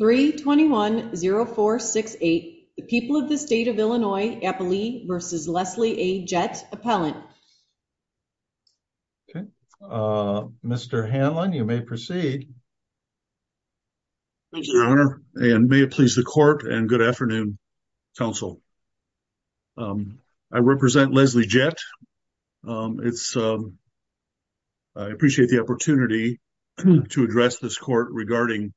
3210468, the people of the state of Illinois, Eppley v. Leslie A. Jett, Appellant. Okay, Mr. Hanlon, you may proceed. Thank you, Your Honor, and may it please the Court and good afternoon, Counsel. I represent Leslie Jett. I appreciate the opportunity to address this Court regarding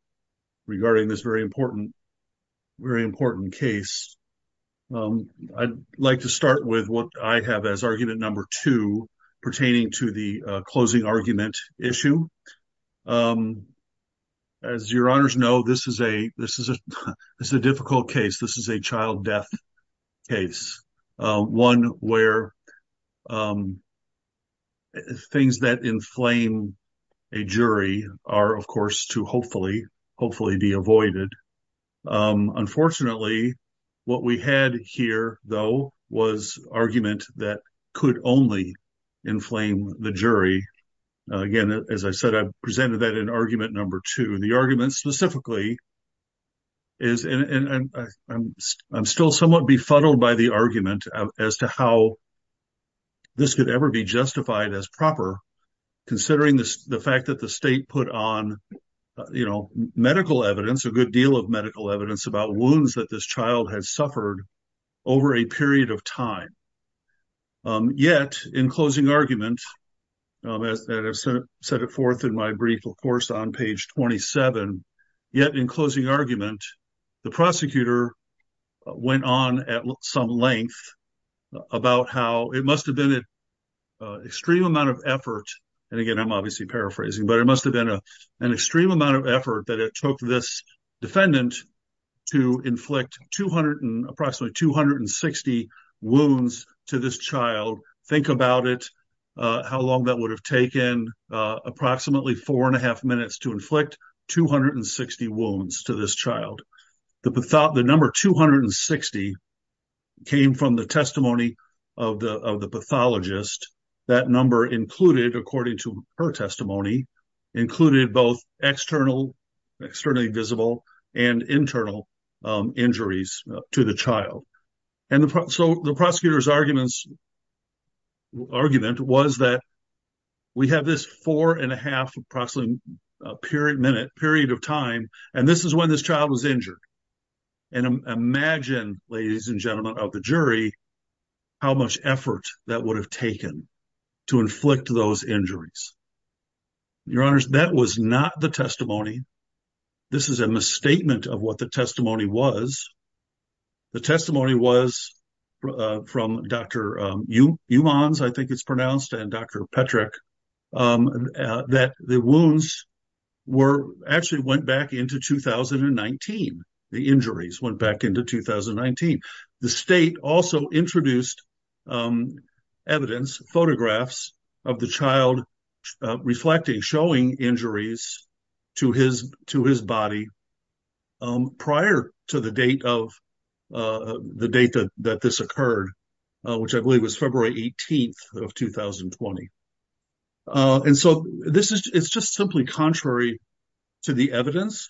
this very important case. I'd like to start with what I have as argument number two pertaining to the closing argument issue. As Your Honors know, this is a difficult case. This is a child death case, one where things that inflame a jury are, of course, to hopefully be avoided. Unfortunately, what we had here, though, was argument that could only inflame the jury. Again, as I said, I presented that in argument number two. The argument specifically is, and I'm still somewhat befuddled by the argument as to how this could ever be justified as proper, considering the fact that the state put on, you know, medical evidence, a good deal of medical evidence, about wounds that this child has suffered over a period of time. Yet, in closing argument, as I set it forth in my brief, of course, on page 27, yet in closing argument, the prosecutor went on at some length about how it must have been an extreme amount of effort, and again, I'm obviously paraphrasing, but it must have been an extreme amount of effort that it took this defendant to inflict approximately 260 wounds to this child. Think about it, how long that would have taken, approximately four and a half minutes to inflict 260 wounds to this child. The number 260 came from the testimony of the pathologist. That number included, according to her testimony, included both externally visible and internal injuries to the child. So the prosecutor's argument was that we have this four and a half minute period of time, and this is when this child was injured. And imagine, ladies and gentlemen of the jury, how much effort that would have taken to inflict those injuries. Your Honors, that was not the testimony. This is a misstatement of what the testimony was. The testimony was from Dr. Umans, I think it's pronounced, and Dr. Petrick, that the wounds actually went back into 2019. The injuries went back into 2019. The state also introduced evidence, photographs, of the child reflecting, showing injuries to his body prior to the date that this occurred, which I believe was February 18th of 2020. And so this is just simply contrary to the evidence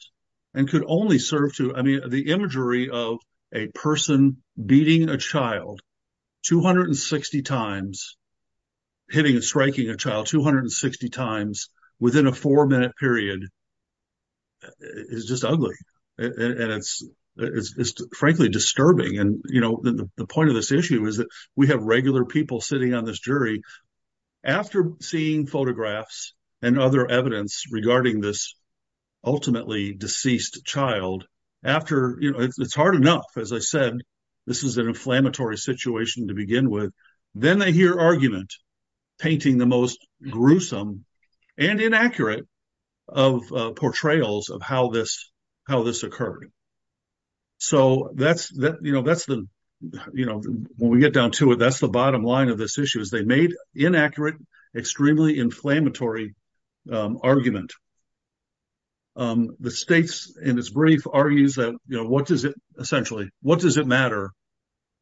and could only serve to, I mean, the imagery of a person beating a child 260 times, hitting and striking a child 260 times within a four minute period is just ugly. And it's frankly disturbing. And, you know, the point of this issue is that we have regular people sitting on this jury after seeing photographs and other evidence regarding this ultimately deceased child, after, you know, it's hard enough, as I said, this is an inflammatory situation to begin with, then they hear argument painting the most gruesome and inaccurate of portrayals of how this occurred. So that's, you know, that's the, you know, when we get down to it, that's the bottom line of this issue is they made inaccurate, extremely inflammatory argument. The states in this brief argues that, you know, what does it essentially, what does it matter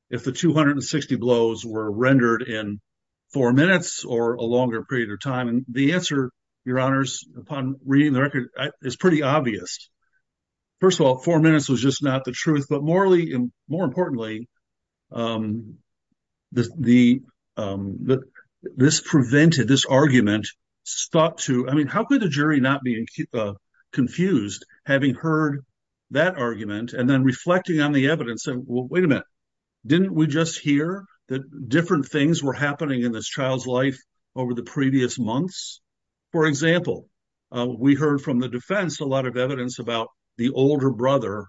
if the 260 blows were rendered in four minutes or a longer period of time? And the answer, your honors, upon reading the record is pretty obvious. First of all, four minutes was just not the truth, but morally and more importantly, this prevented, this argument stopped to, I mean, how could the jury not be confused having heard that argument and then reflecting on the evidence? Wait a minute, didn't we just hear that different things were happening in this child's life over the previous months? For example, we heard from the defense, a lot of evidence about the older brother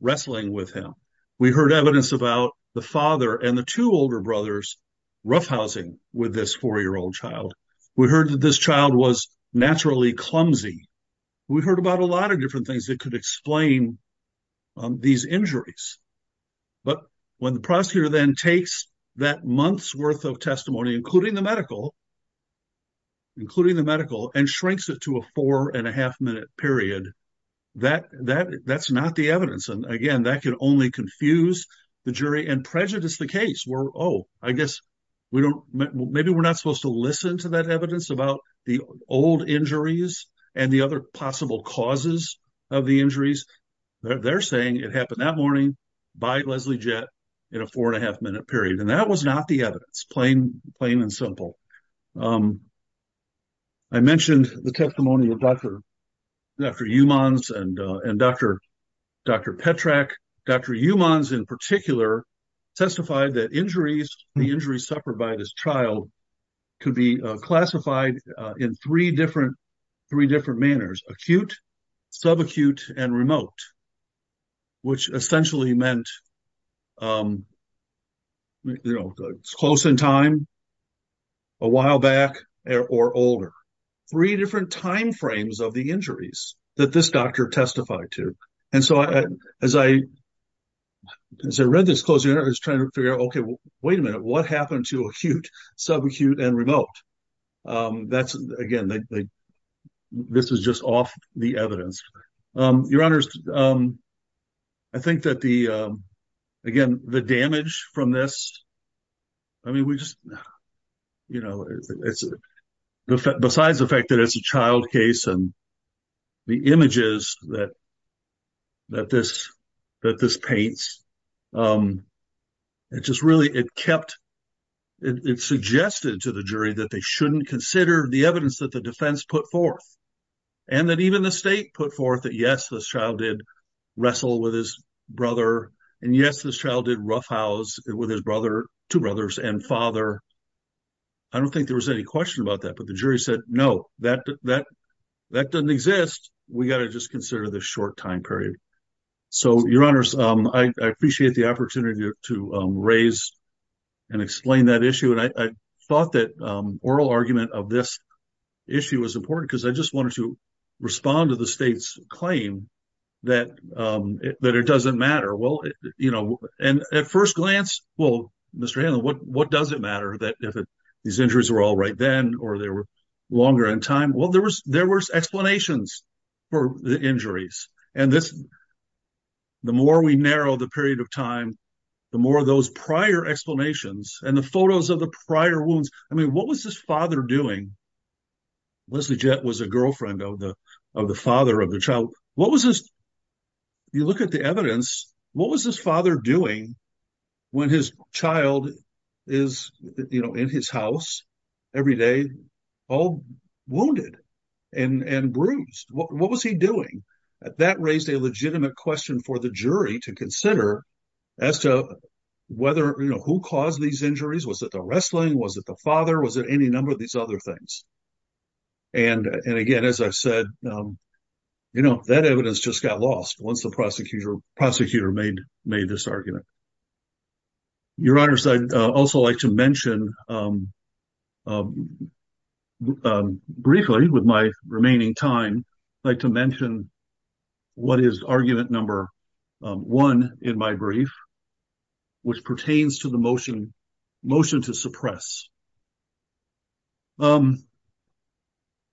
wrestling with him. We heard evidence about the father and the two older brothers roughhousing with this four-year-old child. We heard that this child was naturally clumsy. We heard about a lot of different things that could explain these injuries. But when the prosecutor then takes that month's worth of testimony, including the medical, including the medical, and shrinks it to a four-and-a-half-minute period, that's not the evidence. And again, that can only confuse the jury and prejudice the case where, oh, I guess we don't, maybe we're not supposed to listen to that evidence about the old injuries and the other possible causes of the injuries. They're saying it happened that morning by Leslie Jett in a four-and-a-half-minute period. And that was not the evidence, plain and simple. I mentioned the testimony of Dr. Umans and Dr. Petrak. Dr. Umans, in particular, testified that the injuries suffered by this child could be classified in three different manners, acute, subacute, and remote, which essentially meant close in time, a while back, or older. Three different timeframes of the injuries that this doctor testified to. And so as I read this closing, I was trying to figure out, okay, wait a minute, what happened to acute, subacute, and remote? That's, again, this is just off the evidence. Your Honors, I think that the, again, the damage from this, I mean, we just, you know, besides the fact that it's a child case and the images that this paints, it just really, it kept, it suggested to the jury that they shouldn't consider the evidence that the defense put forth. And that even the state put forth that, yes, this child did wrestle with his brother. And, yes, this child did roughhouse with his brother, two brothers, and father. I don't think there was any question about that, but the jury said, no, that doesn't exist. We got to just consider the short time period. So, Your Honors, I appreciate the opportunity to raise and explain that issue. And I thought that oral argument of this issue was important because I just wanted to respond to the state's claim that it doesn't matter. Well, you know, and at first glance, well, Mr. Hanlon, what does it matter that if these injuries were all right then or they were longer in time? Well, there was explanations for the injuries. And this, the more we narrow the period of time, the more of those prior explanations and the photos of the prior wounds. I mean, what was this father doing? Leslie Jett was a girlfriend of the father of the child. What was this, you look at the evidence, what was this father doing when his child is, you know, in his house every day, all wounded and bruised? What was he doing? That raised a legitimate question for the jury to consider as to whether, you know, who caused these injuries? Was it the wrestling? Was it the father? Was it any number of these other things? And again, as I said, you know, that evidence just got lost once the prosecutor made this argument. Your Honor, I'd also like to mention briefly with my remaining time, I'd like to mention what is argument number one in my brief, which pertains to the motion to suppress.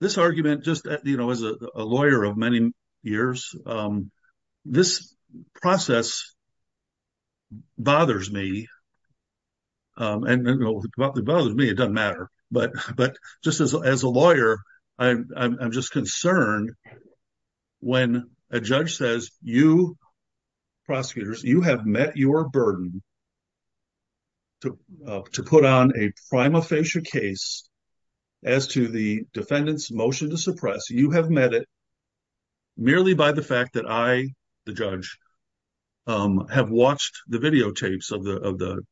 This argument just, you know, as a lawyer of many years, this process bothers me. And, you know, it bothers me, it doesn't matter. But just as a lawyer, I'm just concerned when a judge says, you, prosecutors, you have met your burden to put on a prima facie case as to the defendant's motion to suppress. You have met it merely by the fact that I, the judge, have watched the videotapes of the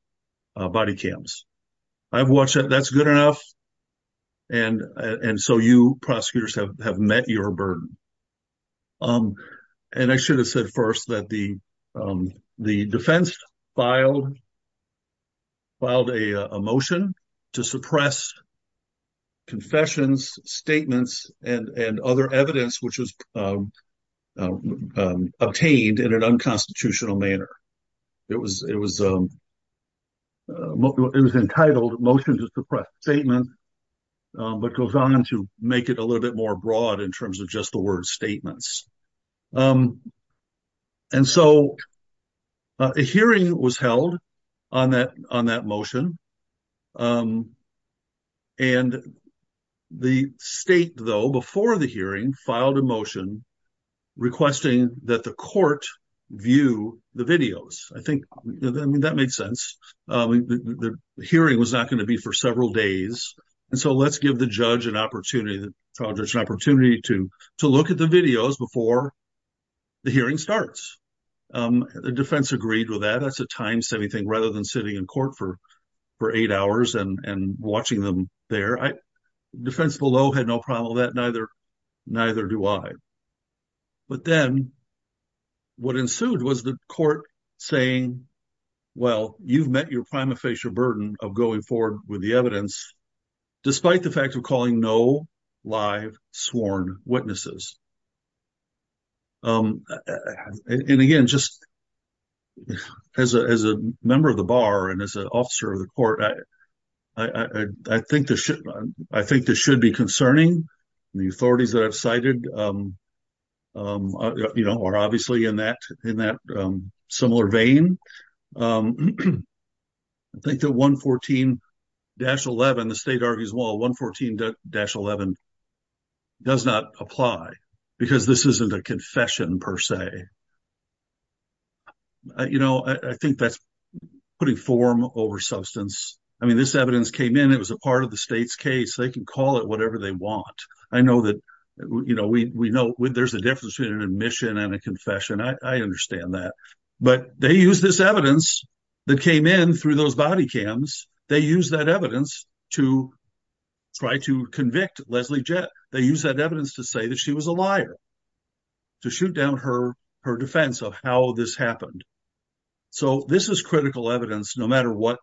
body cams. I've watched it. That's good enough. And so you, prosecutors, have met your burden. And I should have said first that the defense filed a motion to suppress confessions, statements, and other evidence which was obtained in an unconstitutional manner. It was entitled Motion to Suppress Statements, but goes on to make it a little bit more broad in terms of just the word statements. And so a hearing was held on that motion. And the state, though, before the hearing, filed a motion requesting that the court view the videos. I think that makes sense. The hearing was not going to be for several days. And so let's give the judge an opportunity to look at the videos before the hearing starts. The defense agreed with that. That's a time saving thing rather than sitting in court for eight hours and watching them there. Defense below had no problem with that. Neither do I. But then what ensued was the court saying, well, you've met your prima facie burden of going forward with the evidence, despite the fact of calling no live sworn witnesses. And, again, just as a member of the bar and as an officer of the court, I think this should be concerning. The authorities that I've cited are obviously in that similar vein. I think that 114-11, the state argues, well, 114-11 does not apply because this isn't a confession per se. You know, I think that's putting form over substance. I mean, this evidence came in. It was a part of the state's case. They can call it whatever they want. I know that, you know, we know there's a difference between an admission and a confession. I understand that. But they used this evidence that came in through those body cams. They used that evidence to try to convict Leslie Jett. They used that evidence to say that she was a liar, to shoot down her defense of how this happened. So this is critical evidence, no matter what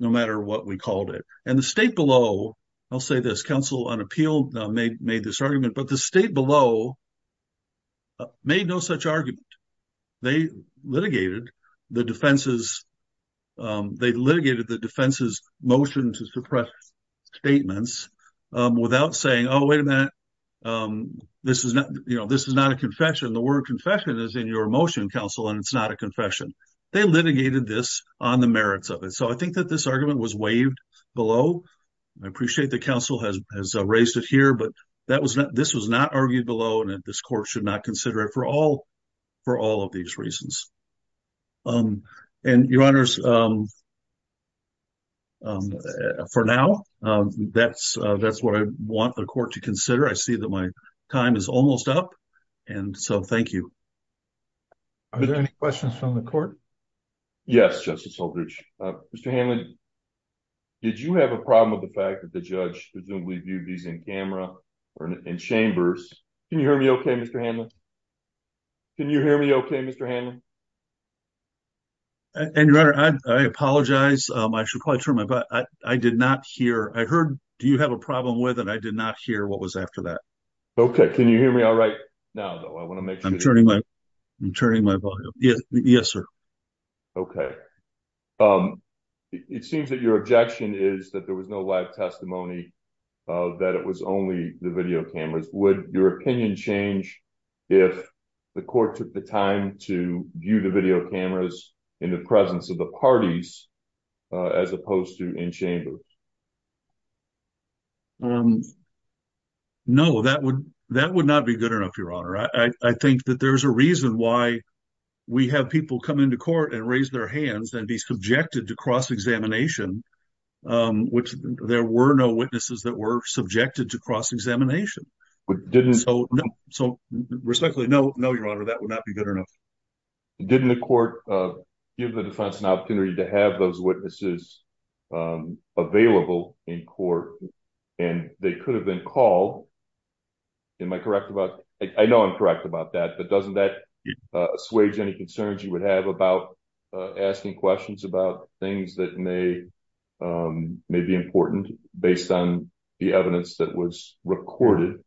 we called it. And the state below, I'll say this, counsel on appeal made this argument, but the state below made no such argument. They litigated the defense's motion to suppress statements without saying, oh, wait a minute, this is not a confession. The word confession is in your motion, counsel, and it's not a confession. They litigated this on the merits of it. So I think that this argument was waived below. I appreciate that counsel has raised it here. But this was not argued below, and this court should not consider it for all of these reasons. And, Your Honors, for now, that's what I want the court to consider. I see that my time is almost up. And so thank you. Are there any questions from the court? Yes, Justice Oldridge. Mr. Hanlon, did you have a problem with the fact that the judge presumably viewed these in camera or in chambers? Can you hear me okay, Mr. Hanlon? Can you hear me okay, Mr. Hanlon? And, Your Honor, I apologize. I should probably turn my volume up. I did not hear. I heard, do you have a problem with it? I did not hear what was after that. Okay. Can you hear me all right now, though? I want to make sure. I'm turning my volume up. Yes, sir. Okay. It seems that your objection is that there was no live testimony, that it was only the video cameras. Would your opinion change if the court took the time to view the video cameras in the presence of the parties as opposed to in chambers? No, that would not be good enough, Your Honor. I think that there's a reason why we have people come into court and raise their hands and be subjected to cross-examination, which there were no witnesses that were subjected to cross-examination. So, respectfully, no, Your Honor, that would not be good enough. Didn't the court give the defense an opportunity to have those witnesses available in court, and they could have been called? Am I correct about that? I know I'm correct about that, but doesn't that assuage any concerns you would have about asking questions about things that may be important based on the evidence that was recorded?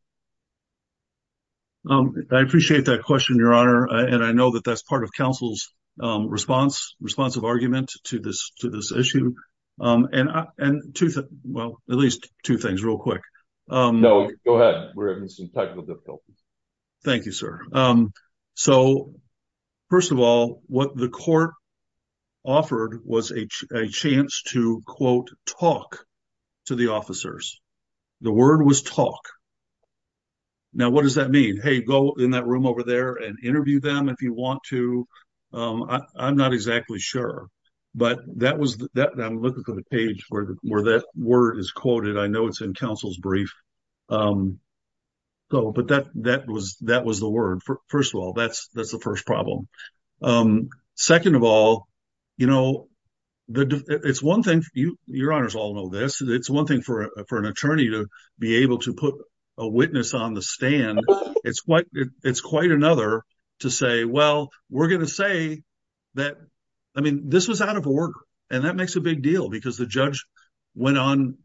I appreciate that question, Your Honor, and I know that that's part of counsel's responsive argument to this issue. And, well, at least two things real quick. No, go ahead. We're having some technical difficulties. Thank you, sir. So, first of all, what the court offered was a chance to, quote, talk to the officers. The word was talk. Now, what does that mean? Hey, go in that room over there and interview them if you want to. I'm not exactly sure. But I'm looking for the page where that word is quoted. I know it's in counsel's brief. But that was the word. First of all, that's the first problem. Second of all, you know, it's one thing, Your Honors all know this, it's one thing for an attorney to be able to put a witness on the stand. It's quite another to say, well, we're going to say that, I mean, this was out of order. And that makes a big deal because the judge went on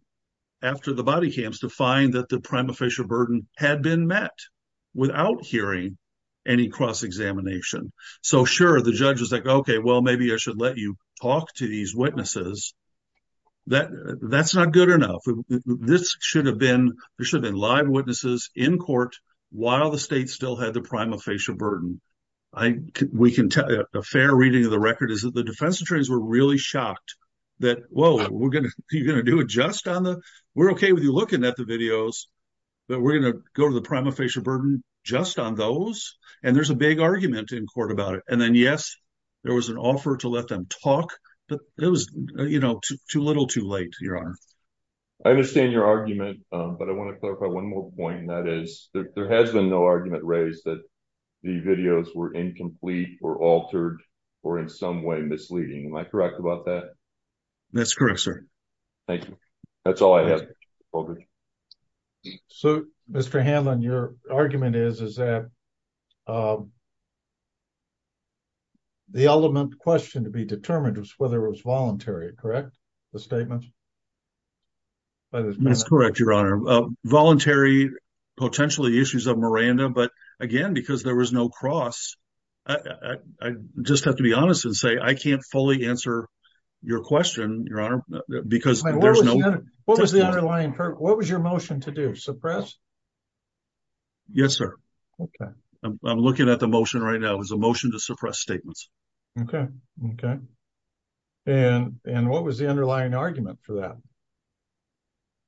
after the body camps to find that the prima facie burden had been met without hearing any cross-examination. So, sure, the judge was like, okay, well, maybe I should let you talk to these witnesses. That's not good enough. This should have been, there should have been live witnesses in court while the state still had the prima facie burden. A fair reading of the record is that the defense attorneys were really shocked that, whoa, you're going to do it just on the, we're okay with you looking at the videos, but we're going to go to the prima facie burden just on those? And there's a big argument in court about it. And then, yes, there was an offer to let them talk. But it was, you know, too little too late, Your Honor. I understand your argument, but I want to clarify one more point. And that is, there has been no argument raised that the videos were incomplete or altered or in some way misleading. Am I correct about that? That's correct, sir. Thank you. That's all I have. So, Mr. Hamlin, your argument is, is that the element question to be determined was whether it was voluntary. Correct. The statement. That's correct. Your Honor. Voluntary potentially issues of Miranda. But, again, because there was no cross. I just have to be honest and say, I can't fully answer your question, Your Honor, because there's no. What was the underlying purpose? What was your motion to do? Suppress? Yes, sir. Okay. I'm looking at the motion right now. It was a motion to suppress statements. Okay. Okay. And what was the underlying argument for that?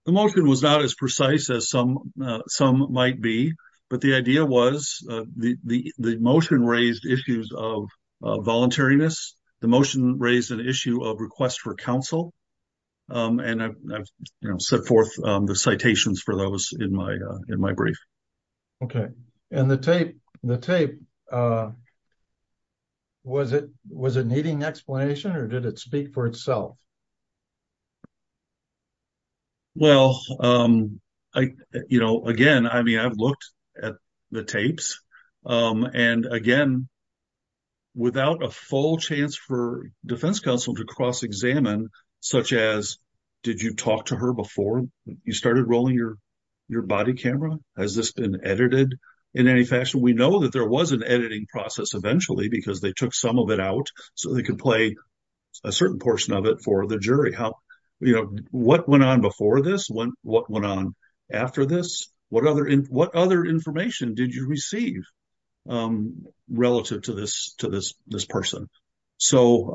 The motion was not as precise as some might be. But the idea was the motion raised issues of voluntariness. The motion raised an issue of requests for counsel. And I've set forth the citations for those in my in my brief. Okay. And the tape, the tape. Was it was a needing explanation or did it speak for itself? Well, I, you know, again, I mean, I've looked at the tapes. And, again, without a full chance for defense counsel to cross examine, such as did you talk to her before you started rolling your your body camera? Has this been edited in any fashion? We know that there was an editing process eventually because they took some of it out so they could play a certain portion of it for the jury. What went on before this? What went on after this? What other what other information did you receive relative to this to this this person? So,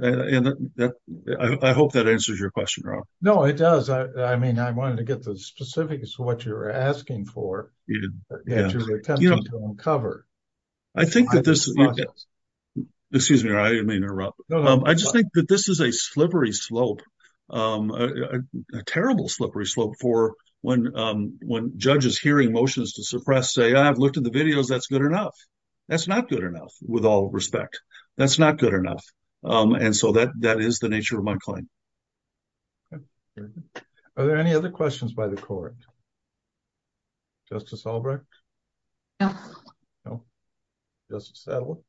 I hope that answers your question. No, it does. I mean, I wanted to get the specifics of what you're asking for cover. I think that this excuse me. I didn't mean to interrupt. I just think that this is a slippery slope, a terrible slippery slope for when when judges hearing motions to suppress say, I've looked at the videos. That's good enough. That's not good enough. With all respect. That's not good enough. And so that that is the nature of my claim. Are there any other questions by the court? Justice Albrecht. No. Just settled.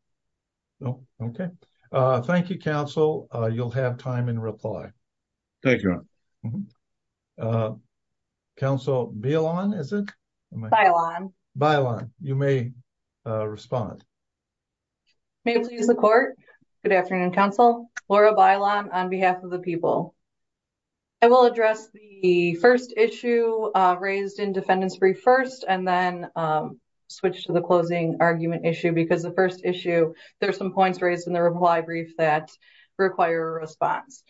Okay. Thank you, counsel. You'll have time and reply. Thank you. Council be alone, isn't it? Byline. You may respond. May please the court. Good afternoon, counsel. Laura byline on behalf of the people. I will address the 1st issue raised in defendants brief 1st and then switch to the closing argument issue because the 1st issue, there's some points raised in the reply brief that require a response.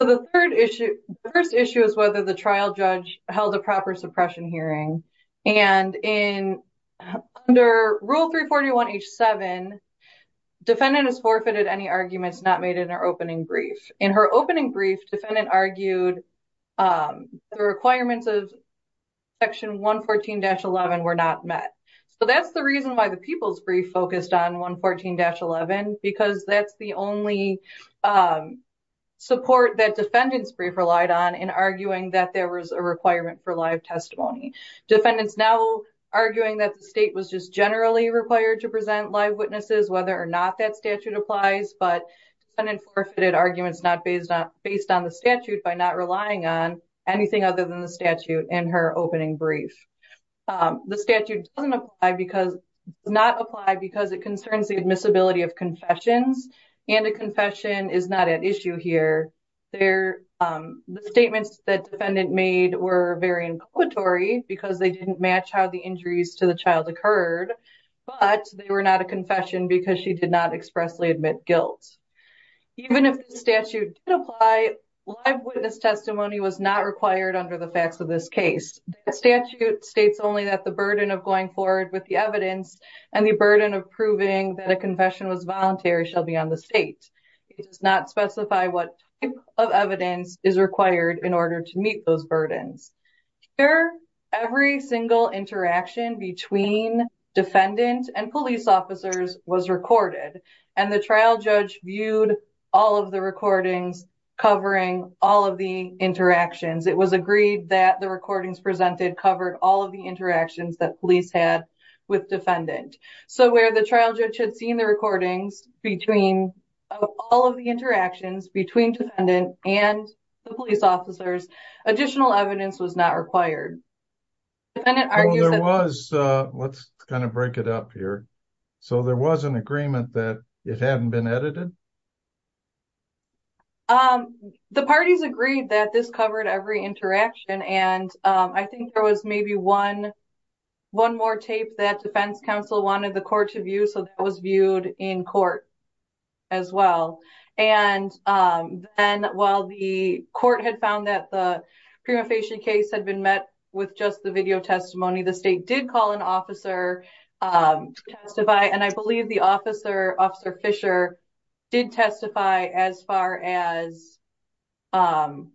So, the 3rd issue, the 1st issue is whether the trial judge held a proper suppression hearing. And in under rule 341 H7, defendant has forfeited any arguments not made in our opening brief. In her opening brief, defendant argued the requirements of section 114-11 were not met. So, that's the reason why the people's brief focused on 114-11 because that's the only support that defendants brief relied on in arguing that there was a requirement for live testimony. Defendants now arguing that the state was just generally required to present live witnesses, whether or not that statute applies. But defendant forfeited arguments not based on the statute by not relying on anything other than the statute in her opening brief. The statute does not apply because it concerns the admissibility of confessions and a confession is not at issue here. The statements that defendant made were very imploratory because they didn't match how the injuries to the child occurred, but they were not a confession because she did not expressly admit guilt. Even if the statute did apply, live witness testimony was not required under the facts of this case. The statute states only that the burden of going forward with the evidence and the burden of proving that a confession was voluntary shall be on the state. It does not specify what type of evidence is required in order to meet those burdens. Here, every single interaction between defendant and police officers was recorded and the trial judge viewed all of the recordings covering all of the interactions. It was agreed that the recordings presented covered all of the interactions that police had with defendant. So where the trial judge had seen the recordings between all of the interactions between defendant and the police officers, additional evidence was not required. Let's kind of break it up here. So there was an agreement that it hadn't been edited? The parties agreed that this covered every interaction and I think there was maybe one more tape that defense counsel wanted the court to view, so that was viewed in court as well. And then while the court had found that the prima facie case had been met with just the video testimony, the state did call an officer to testify. And I believe the officer, Officer Fisher, did testify as far as that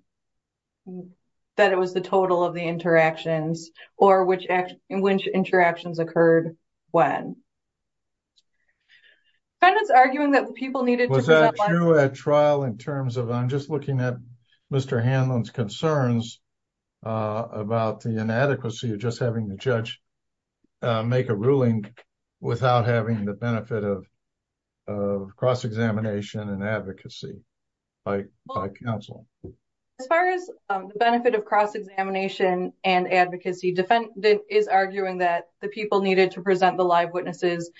it was the total of the interactions or which interactions occurred when. Was that true at trial in terms of, I'm just looking at Mr. Hanlon's concerns about the inadequacy of just having the judge make a ruling without having the benefit of cross-examination and advocacy by counsel? As far as the benefit of cross-examination and advocacy, defendant is arguing that the people needed to present the live witnesses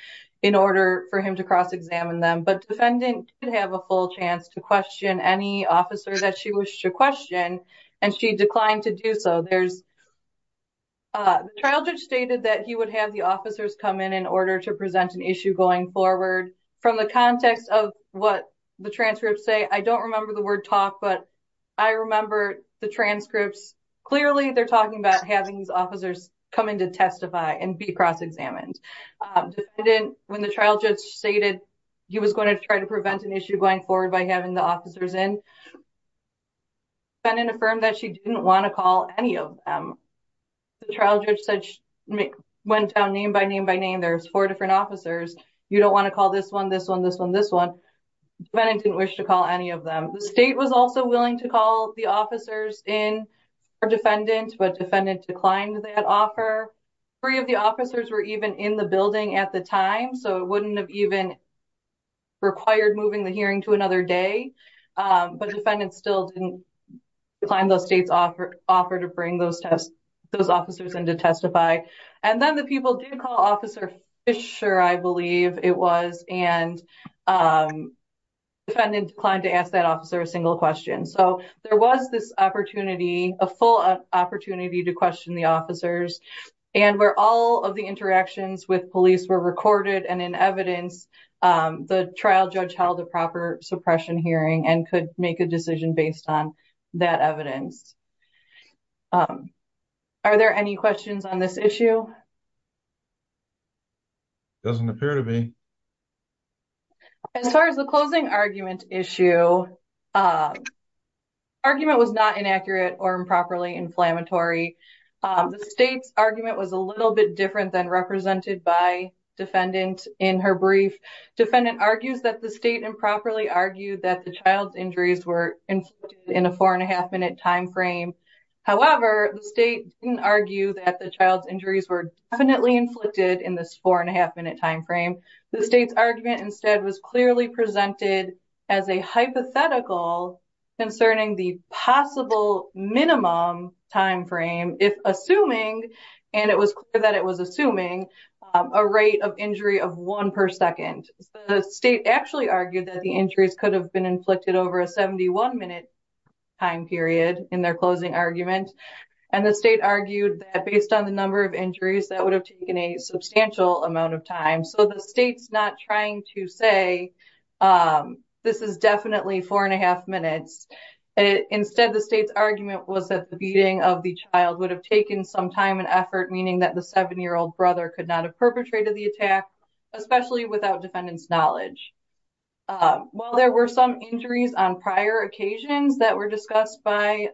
in order for him to cross-examine them. But defendant did have a full chance to question any officer that she wished to question and she declined to do so. The trial judge stated that he would have the officers come in in order to present an issue going forward. From the context of what the transcripts say, I don't remember the word talk, but I remember the transcripts. Clearly, they're talking about having these officers come in to testify and be cross-examined. When the trial judge stated he was going to try to prevent an issue going forward by having the officers in, defendant affirmed that she didn't want to call any of them. The trial judge went down name by name by name, there's four different officers. You don't want to call this one, this one, this one, this one. Defendant didn't wish to call any of them. The state was also willing to call the officers in for defendant, but defendant declined that offer. Three of the officers were even in the building at the time, so it wouldn't have even required moving the hearing to another day. Defendant still didn't decline the state's offer to bring those officers in to testify. Then the people did call Officer Fisher, I believe it was, and defendant declined to ask that officer a single question. There was this opportunity, a full opportunity to question the officers. Where all of the interactions with police were recorded and in evidence, the trial judge held a proper suppression hearing and could make a decision based on that evidence. Are there any questions on this issue? Doesn't appear to be. As far as the closing argument issue, argument was not inaccurate or improperly inflammatory. The state's argument was a little bit different than represented by defendant in her brief. Defendant argues that the state improperly argued that the child's injuries were in a four and a half minute timeframe. However, the state didn't argue that the child's injuries were definitely inflicted in this four and a half minute timeframe. The state's argument instead was clearly presented as a hypothetical concerning the possible minimum timeframe if assuming, and it was clear that it was assuming, a rate of injury of one per second. The state actually argued that the injuries could have been inflicted over a 71 minute time period in their closing argument. And the state argued that based on the number of injuries, that would have taken a substantial amount of time. So the state's not trying to say this is definitely four and a half minutes. Instead, the state's argument was that the beating of the child would have taken some time and effort, meaning that the seven-year-old brother could not have perpetrated the attack, especially without defendant's knowledge. While there were some injuries on prior occasions that were discussed by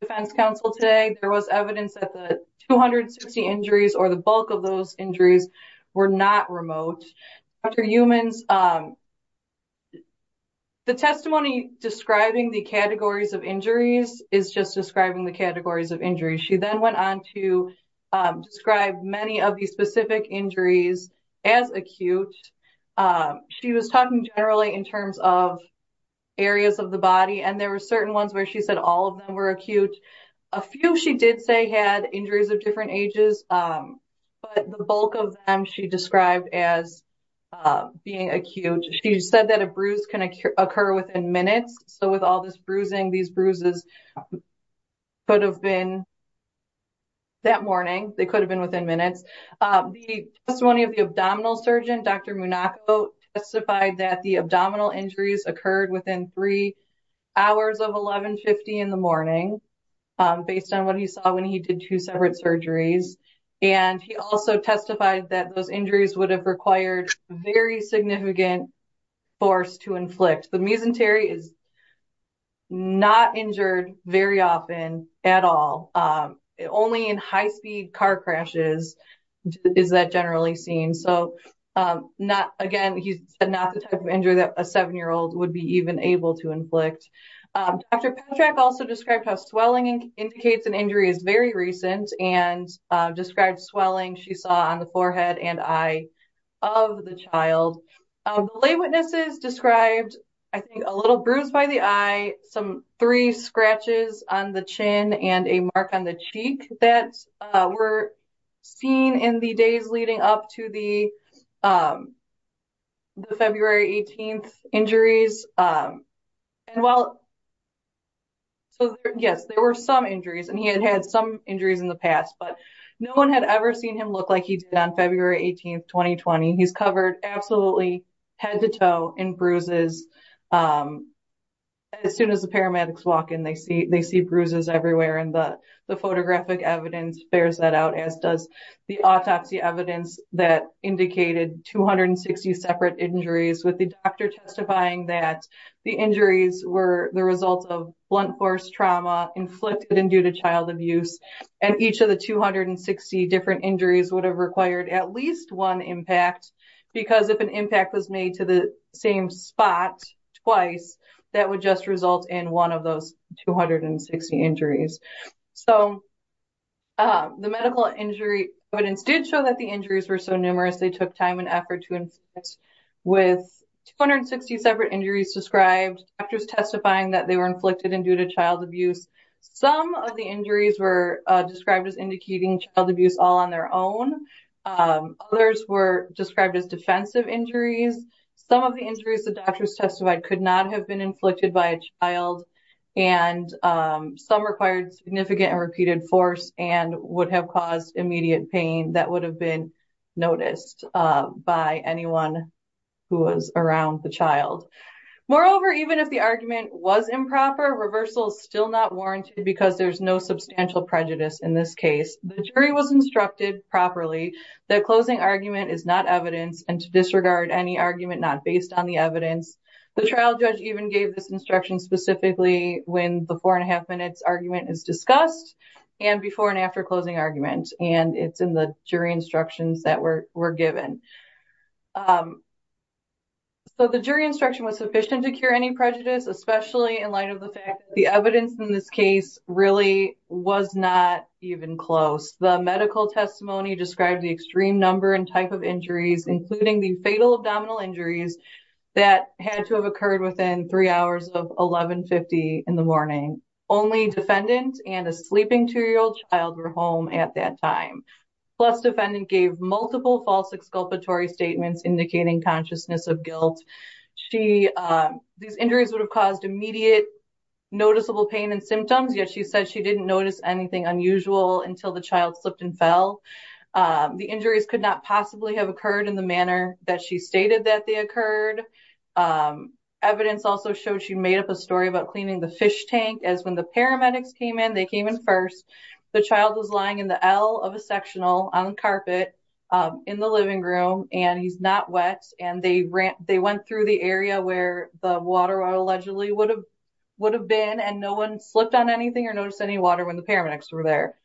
defense counsel today, there was evidence that the 260 injuries or the bulk of those injuries were not remote. The testimony describing the categories of injuries is just describing the categories of injuries. She then went on to describe many of these specific injuries as acute. She was talking generally in terms of areas of the body, and there were certain ones where she said all of them were acute. A few she did say had injuries of different ages, but the bulk of them she described as being acute. She said that a bruise can occur within minutes. So with all this bruising, these bruises could have been that morning. They could have been within minutes. The testimony of the abdominal surgeon, Dr. Munaco, testified that the abdominal injuries occurred within three hours of 1150 in the morning, based on what he saw when he did two separate surgeries. And he also testified that those injuries would have required very significant force to inflict. The misantery is not injured very often at all. Only in high-speed car crashes is that generally seen. So again, he said not the type of injury that a seven-year-old would be even able to inflict. Dr. Petrak also described how swelling indicates an injury is very recent and described swelling she saw on the forehead and eye of the child. The lay witnesses described, I think, a little bruise by the eye, some three scratches on the chin, and a mark on the cheek that were seen in the days leading up to the February 18th injuries. So yes, there were some injuries, and he had had some injuries in the past, but no one had ever seen him look like he did on February 18th, 2020. He's covered absolutely head-to-toe in bruises. As soon as the paramedics walk in, they see bruises everywhere, and the photographic evidence bears that out, as does the autopsy evidence that indicated 260 separate injuries, with the doctor testifying that the injuries were the result of blunt force trauma inflicted and due to child abuse, and each of the 260 different injuries would have required at least one impact, because if an impact was made to the same spot twice, that would just result in one of those 260 injuries. So the medical injury evidence did show that the injuries were so numerous they took time and effort to inflict, with 260 separate injuries described, doctors testifying that they were inflicted and due to child abuse. Some of the injuries were described as indicating child abuse all on their own. Others were described as defensive injuries. Some of the injuries the doctors testified could not have been inflicted by a child, and some required significant and repeated force and would have caused immediate pain that would have been noticed by anyone who was around the child. Moreover, even if the argument was improper, reversal is still not warranted because there's no substantial prejudice in this case. The jury was instructed properly that closing argument is not evidence and to disregard any argument not based on the evidence. The trial judge even gave this instruction specifically when the four and a half minutes argument is discussed and before and after closing argument, and it's in the jury instructions that were given. So the jury instruction was sufficient to cure any prejudice, especially in light of the fact that the evidence in this case really was not even close. The medical testimony described the extreme number and type of injuries, including the fatal abdominal injuries that had to have occurred within three hours of 1150 in the morning. Only defendant and a sleeping two year old child were home at that time. Plus defendant gave multiple false exculpatory statements indicating consciousness of guilt. These injuries would have caused immediate noticeable pain and symptoms, yet she said she didn't notice anything unusual until the child slipped and fell. The injuries could not possibly have occurred in the manner that she stated that they occurred. Evidence also shows she made up a story about cleaning the fish tank as when the paramedics came in, they came in first. The child was lying in the L of a sectional on carpet in the living room and he's not wet and they went through the area where the water allegedly would have been and no one slipped on anything or noticed any water when the paramedics were there.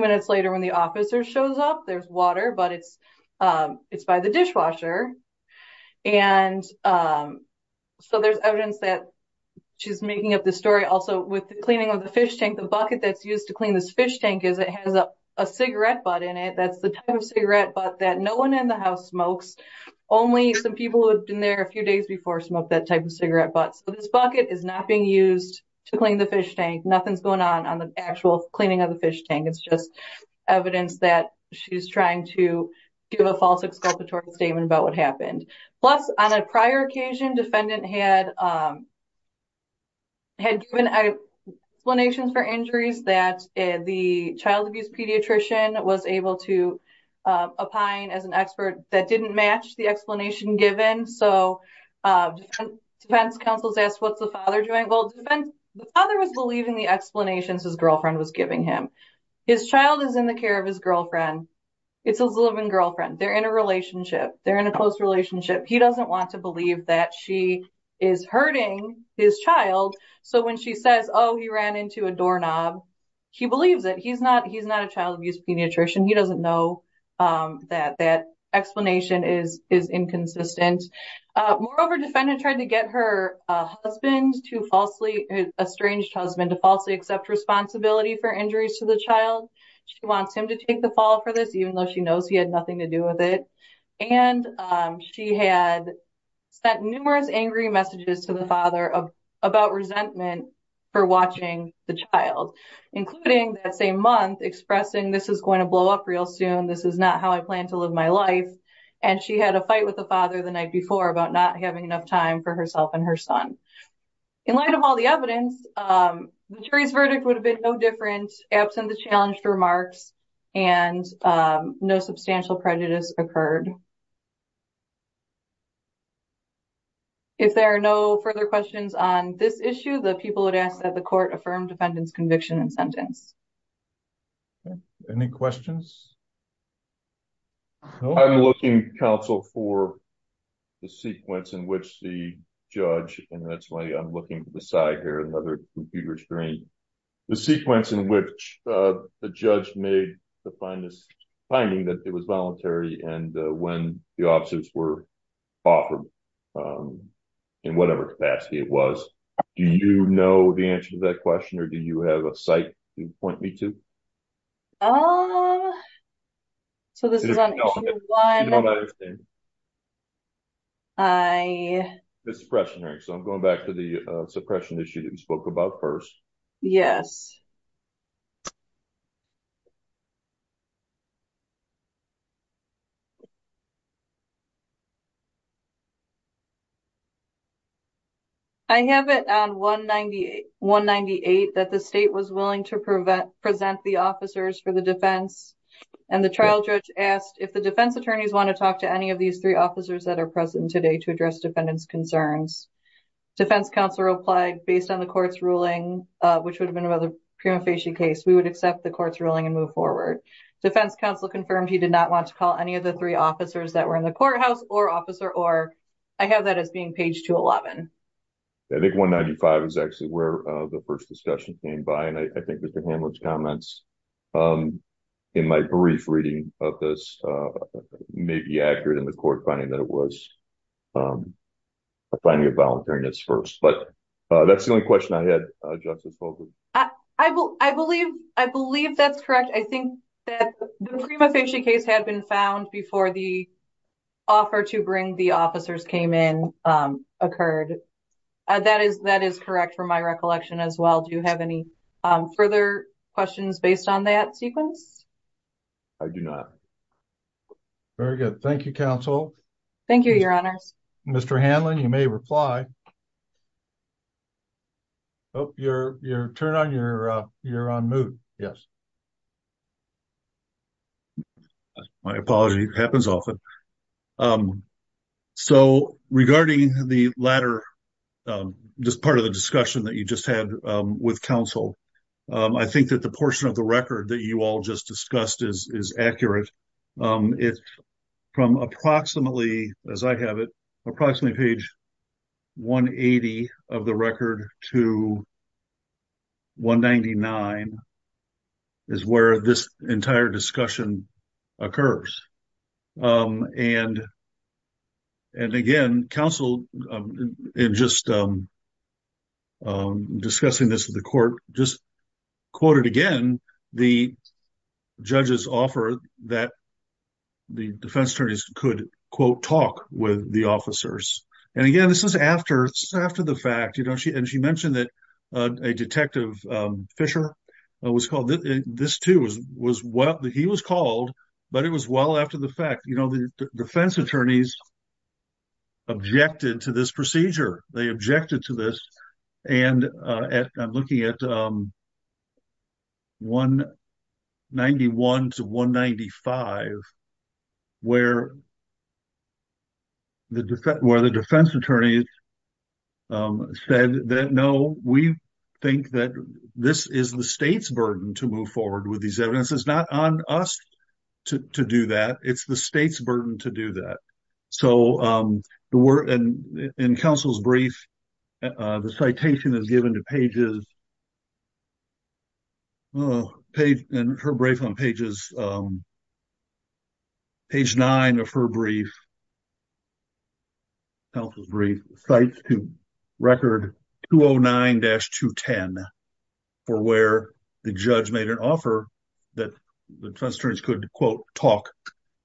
Minutes later, when the officer shows up, there's water, but it's it's by the dishwasher. And so there's evidence that she's making up the story also with the cleaning of the fish tank. The bucket that's used to clean this fish tank is it has a cigarette butt in it. That's the type of cigarette, but that no one in the house smokes. Only some people have been there a few days before smoke that type of cigarette. But this bucket is not being used to clean the fish tank. Nothing's going on on the actual cleaning of the fish tank. It's just evidence that she's trying to give a false exculpatory statement about what happened. Plus, on a prior occasion, defendant had had given explanations for injuries that the child abuse pediatrician was able to opine as an expert that didn't match the explanation given. So defense counsels asked, what's the father doing? Well, the father was believing the explanations his girlfriend was giving him. His child is in the care of his girlfriend. It's a living girlfriend. They're in a relationship. They're in a close relationship. He doesn't want to believe that she is hurting his child. So when she says, oh, he ran into a doorknob, he believes that he's not he's not a child abuse pediatrician. He doesn't know that that explanation is is inconsistent. Moreover, defendant tried to get her husband to falsely estranged husband to falsely accept responsibility for injuries to the child. She wants him to take the fall for this, even though she knows he had nothing to do with it. And she had sent numerous angry messages to the father about resentment for watching the child, including that same month, expressing this is going to blow up real soon. This is not how I plan to live my life. And she had a fight with the father the night before about not having enough time for herself and her son. In light of all the evidence, the jury's verdict would have been no different absent the challenged remarks and no substantial prejudice occurred. If there are no further questions on this issue, the people would ask that the court affirmed defendants conviction and sentence. Any questions? I'm looking counsel for the sequence in which the judge and that's why I'm looking beside here another computer screen. The sequence in which the judge made the finest finding that it was voluntary and when the options were offered in whatever capacity it was. Do you know the answer to that question or do you have a site to point me to? So, this is on. I, so I'm going back to the suppression issue that we spoke about 1st. Yes. I have it on 198, 198 that the state was willing to prevent present the officers for the defense and the child judge asked if the defense attorneys want to talk to any of these 3 officers that are present today to address defendants concerns. Defense counselor applied based on the court's ruling, which would have been another case. We would accept the court's ruling and move forward. Defense counsel confirmed. He did not want to call any of the 3 officers that were in the courthouse or officer or I have that as being page to 11. I think 195 is actually where the 1st discussion came by and I think that the comments in my brief reading of this may be accurate in the court finding that it was. Finding a volunteering is 1st, but that's the only question I had. I, I will, I believe I believe that's correct. I think that the prima facie case had been found before the. Offer to bring the officers came in occurred. That is that is correct for my recollection as well. Do you have any further questions based on that sequence? I do not very good. Thank you counsel. Thank you. Your honor. Mr. Hanlon, you may reply. Oh, you're you're turn on your you're on mood. Yes. My apology happens often. So, regarding the latter, just part of the discussion that you just had with counsel, I think that the portion of the record that you all just discussed is accurate. It's from approximately, as I have it approximately page. 180 of the record to. 199 is where this entire discussion. Occurs and. And again, counsel, and just. Discussing this to the court, just. Quoted again, the judges offer that. The defense attorneys could quote, talk with the officers and again, this is after after the fact, you know, she and she mentioned that a detective Fisher was called this too was was what he was called. But it was well, after the fact, you know, the defense attorneys. Objected to this procedure, they objected to this. And I'm looking at. 191 to 195. Where the where the defense attorney. Said that, no, we think that this is the state's burden to move forward with these evidences, not on us. To do that, it's the state's burden to do that. So, the word and in counsel's brief. The citation is given to pages. Page and her brief on pages. Page 9 of her brief. Health brief sites to. Record 209 dash to 10. For where the judge made an offer that the testers could quote, talk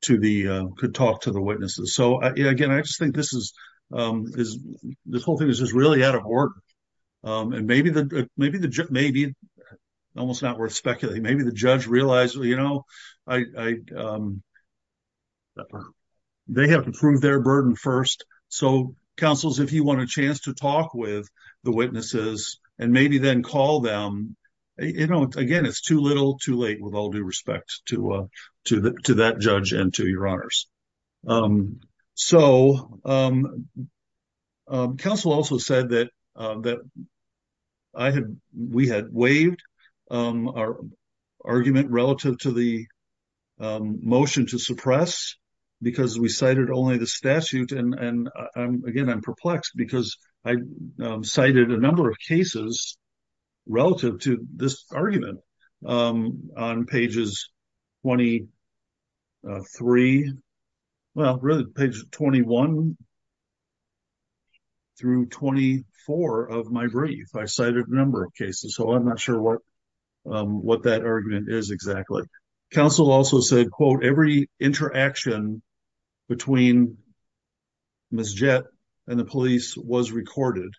to the, could talk to the witnesses. So, again, I just think this is is this whole thing is just really out of work. And maybe the, maybe the, maybe almost not worth speculating. Maybe the judge realized, you know, I. They have to prove their burden 1st. So, councils, if you want a chance to talk with the witnesses, and maybe then call them. You know, again, it's too little too late with all due respect to, uh, to the, to that judge and to your honors. So, um. Counsel also said that that. I had, we had waived our. Argument relative to the motion to suppress. Because we cited only the statute and again, I'm perplexed because I cited a number of cases. Relative to this argument on pages. 23, well, really page 21. Through 24 of my brief, I cited a number of cases, so I'm not sure what. What that argument is exactly council also said, quote, every interaction. Between jet and the police was recorded.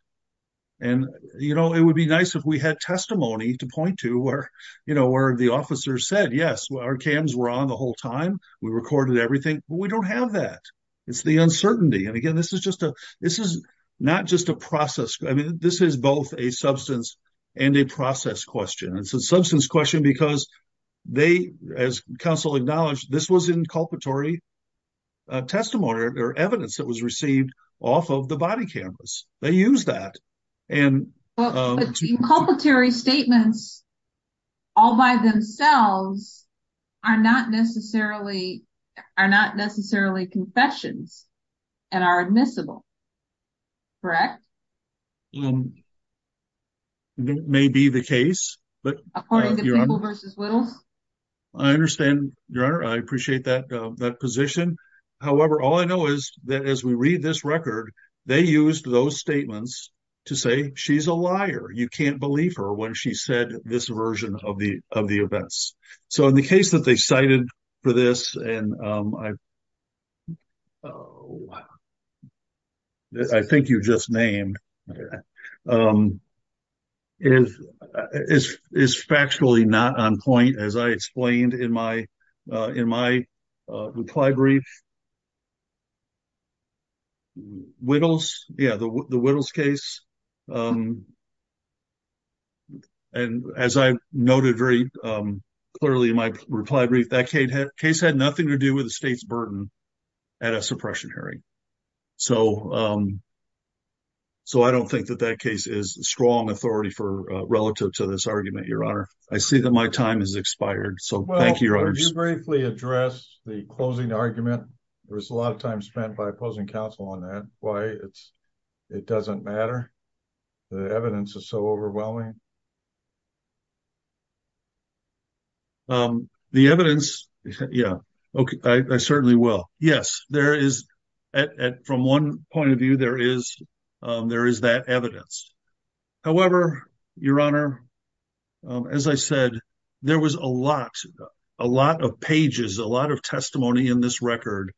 And, you know, it would be nice if we had testimony to point to where, you know, where the officer said, yes, our cams were on the whole time. We recorded everything, but we don't have that. It's the uncertainty and again, this is just a, this is not just a process. I mean, this is both a substance and a process question. It's a substance question because. They, as counsel acknowledged, this was inculpatory. Testimony or evidence that was received off of the body cameras, they use that. And culpatory statements. All by themselves are not necessarily. Are not necessarily confessions and are admissible. Correct. May be the case, but according to people versus. I understand your honor. I appreciate that that position. However, all I know is that as we read this record, they used those statements. To say, she's a liar. You can't believe her when she said this version of the of the events. So, in the case that they cited for this, and I. I think you just named. Is is factually not on point as I explained in my in my. Uh, reply brief whittles. Yeah, the, the whittles case. And as I noted very clearly in my reply brief, that case had nothing to do with the state's burden. At a suppression hearing, so, um. I don't think that that case is strong authority for relative to this argument. Your honor. I see that my time is expired. So thank you very briefly address the closing argument. There's a lot of time spent by opposing counsel on that. Why it's. It doesn't matter. The evidence is so overwhelming. The evidence. Yeah. Okay, I certainly will. Yes, there is. At from 1 point of view, there is, there is that evidence. However, your honor, as I said. There was a lot a lot of pages, a lot of testimony in this record.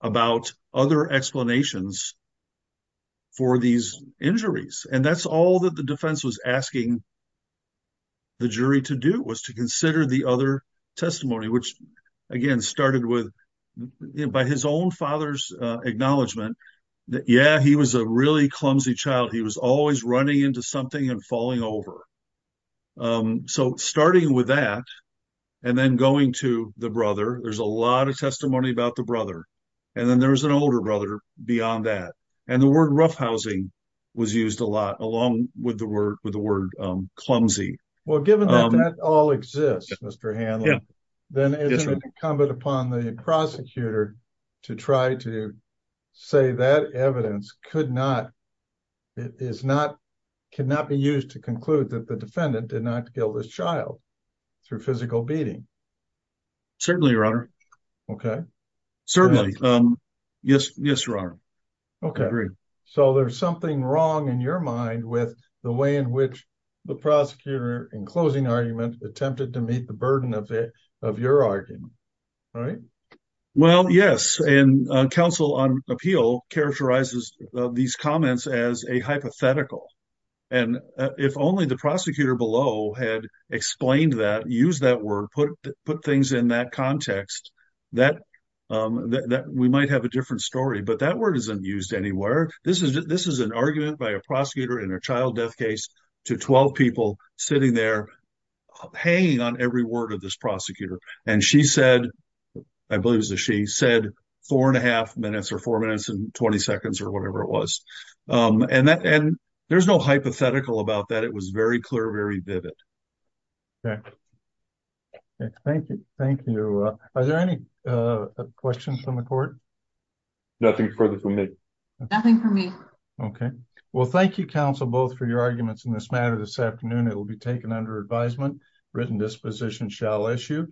About other explanations for these injuries and that's all that the defense was asking. The jury to do was to consider the other testimony, which again started with. By his own father's acknowledgement. Yeah, he was a really clumsy child. He was always running into something and falling over. So, starting with that, and then going to the brother, there's a lot of testimony about the brother. And then there was an older brother beyond that and the word roughhousing. Was used a lot along with the word with the word clumsy. Well, given that all exists, Mr. Hanlon. Then it's incumbent upon the prosecutor. To try to say that evidence could not. It is not cannot be used to conclude that the defendant did not kill this child. Through physical beating certainly your honor. Okay, certainly. Yes. Yes, your honor. Okay, so there's something wrong in your mind with the way in which. The prosecutor in closing argument attempted to meet the burden of it of your argument. Right well, yes, and counsel on appeal characterizes these comments as a hypothetical. And if only the prosecutor below had explained that use that word, put put things in that context. That we might have a different story, but that word isn't used anywhere. This is this is an argument by a prosecutor in a child death case to 12 people sitting there. Paying on every word of this prosecutor and she said. I believe that she said, 4 and a half minutes or 4 minutes and 20 seconds or whatever it was and that and there's no hypothetical about that. It was very clear. Very vivid. Okay, thank you. Thank you. Are there any questions from the court? Nothing further from me. Nothing for me. Okay. Well, thank you counsel both for your arguments in this matter this afternoon. It will be taken under advisement written disposition shall issue.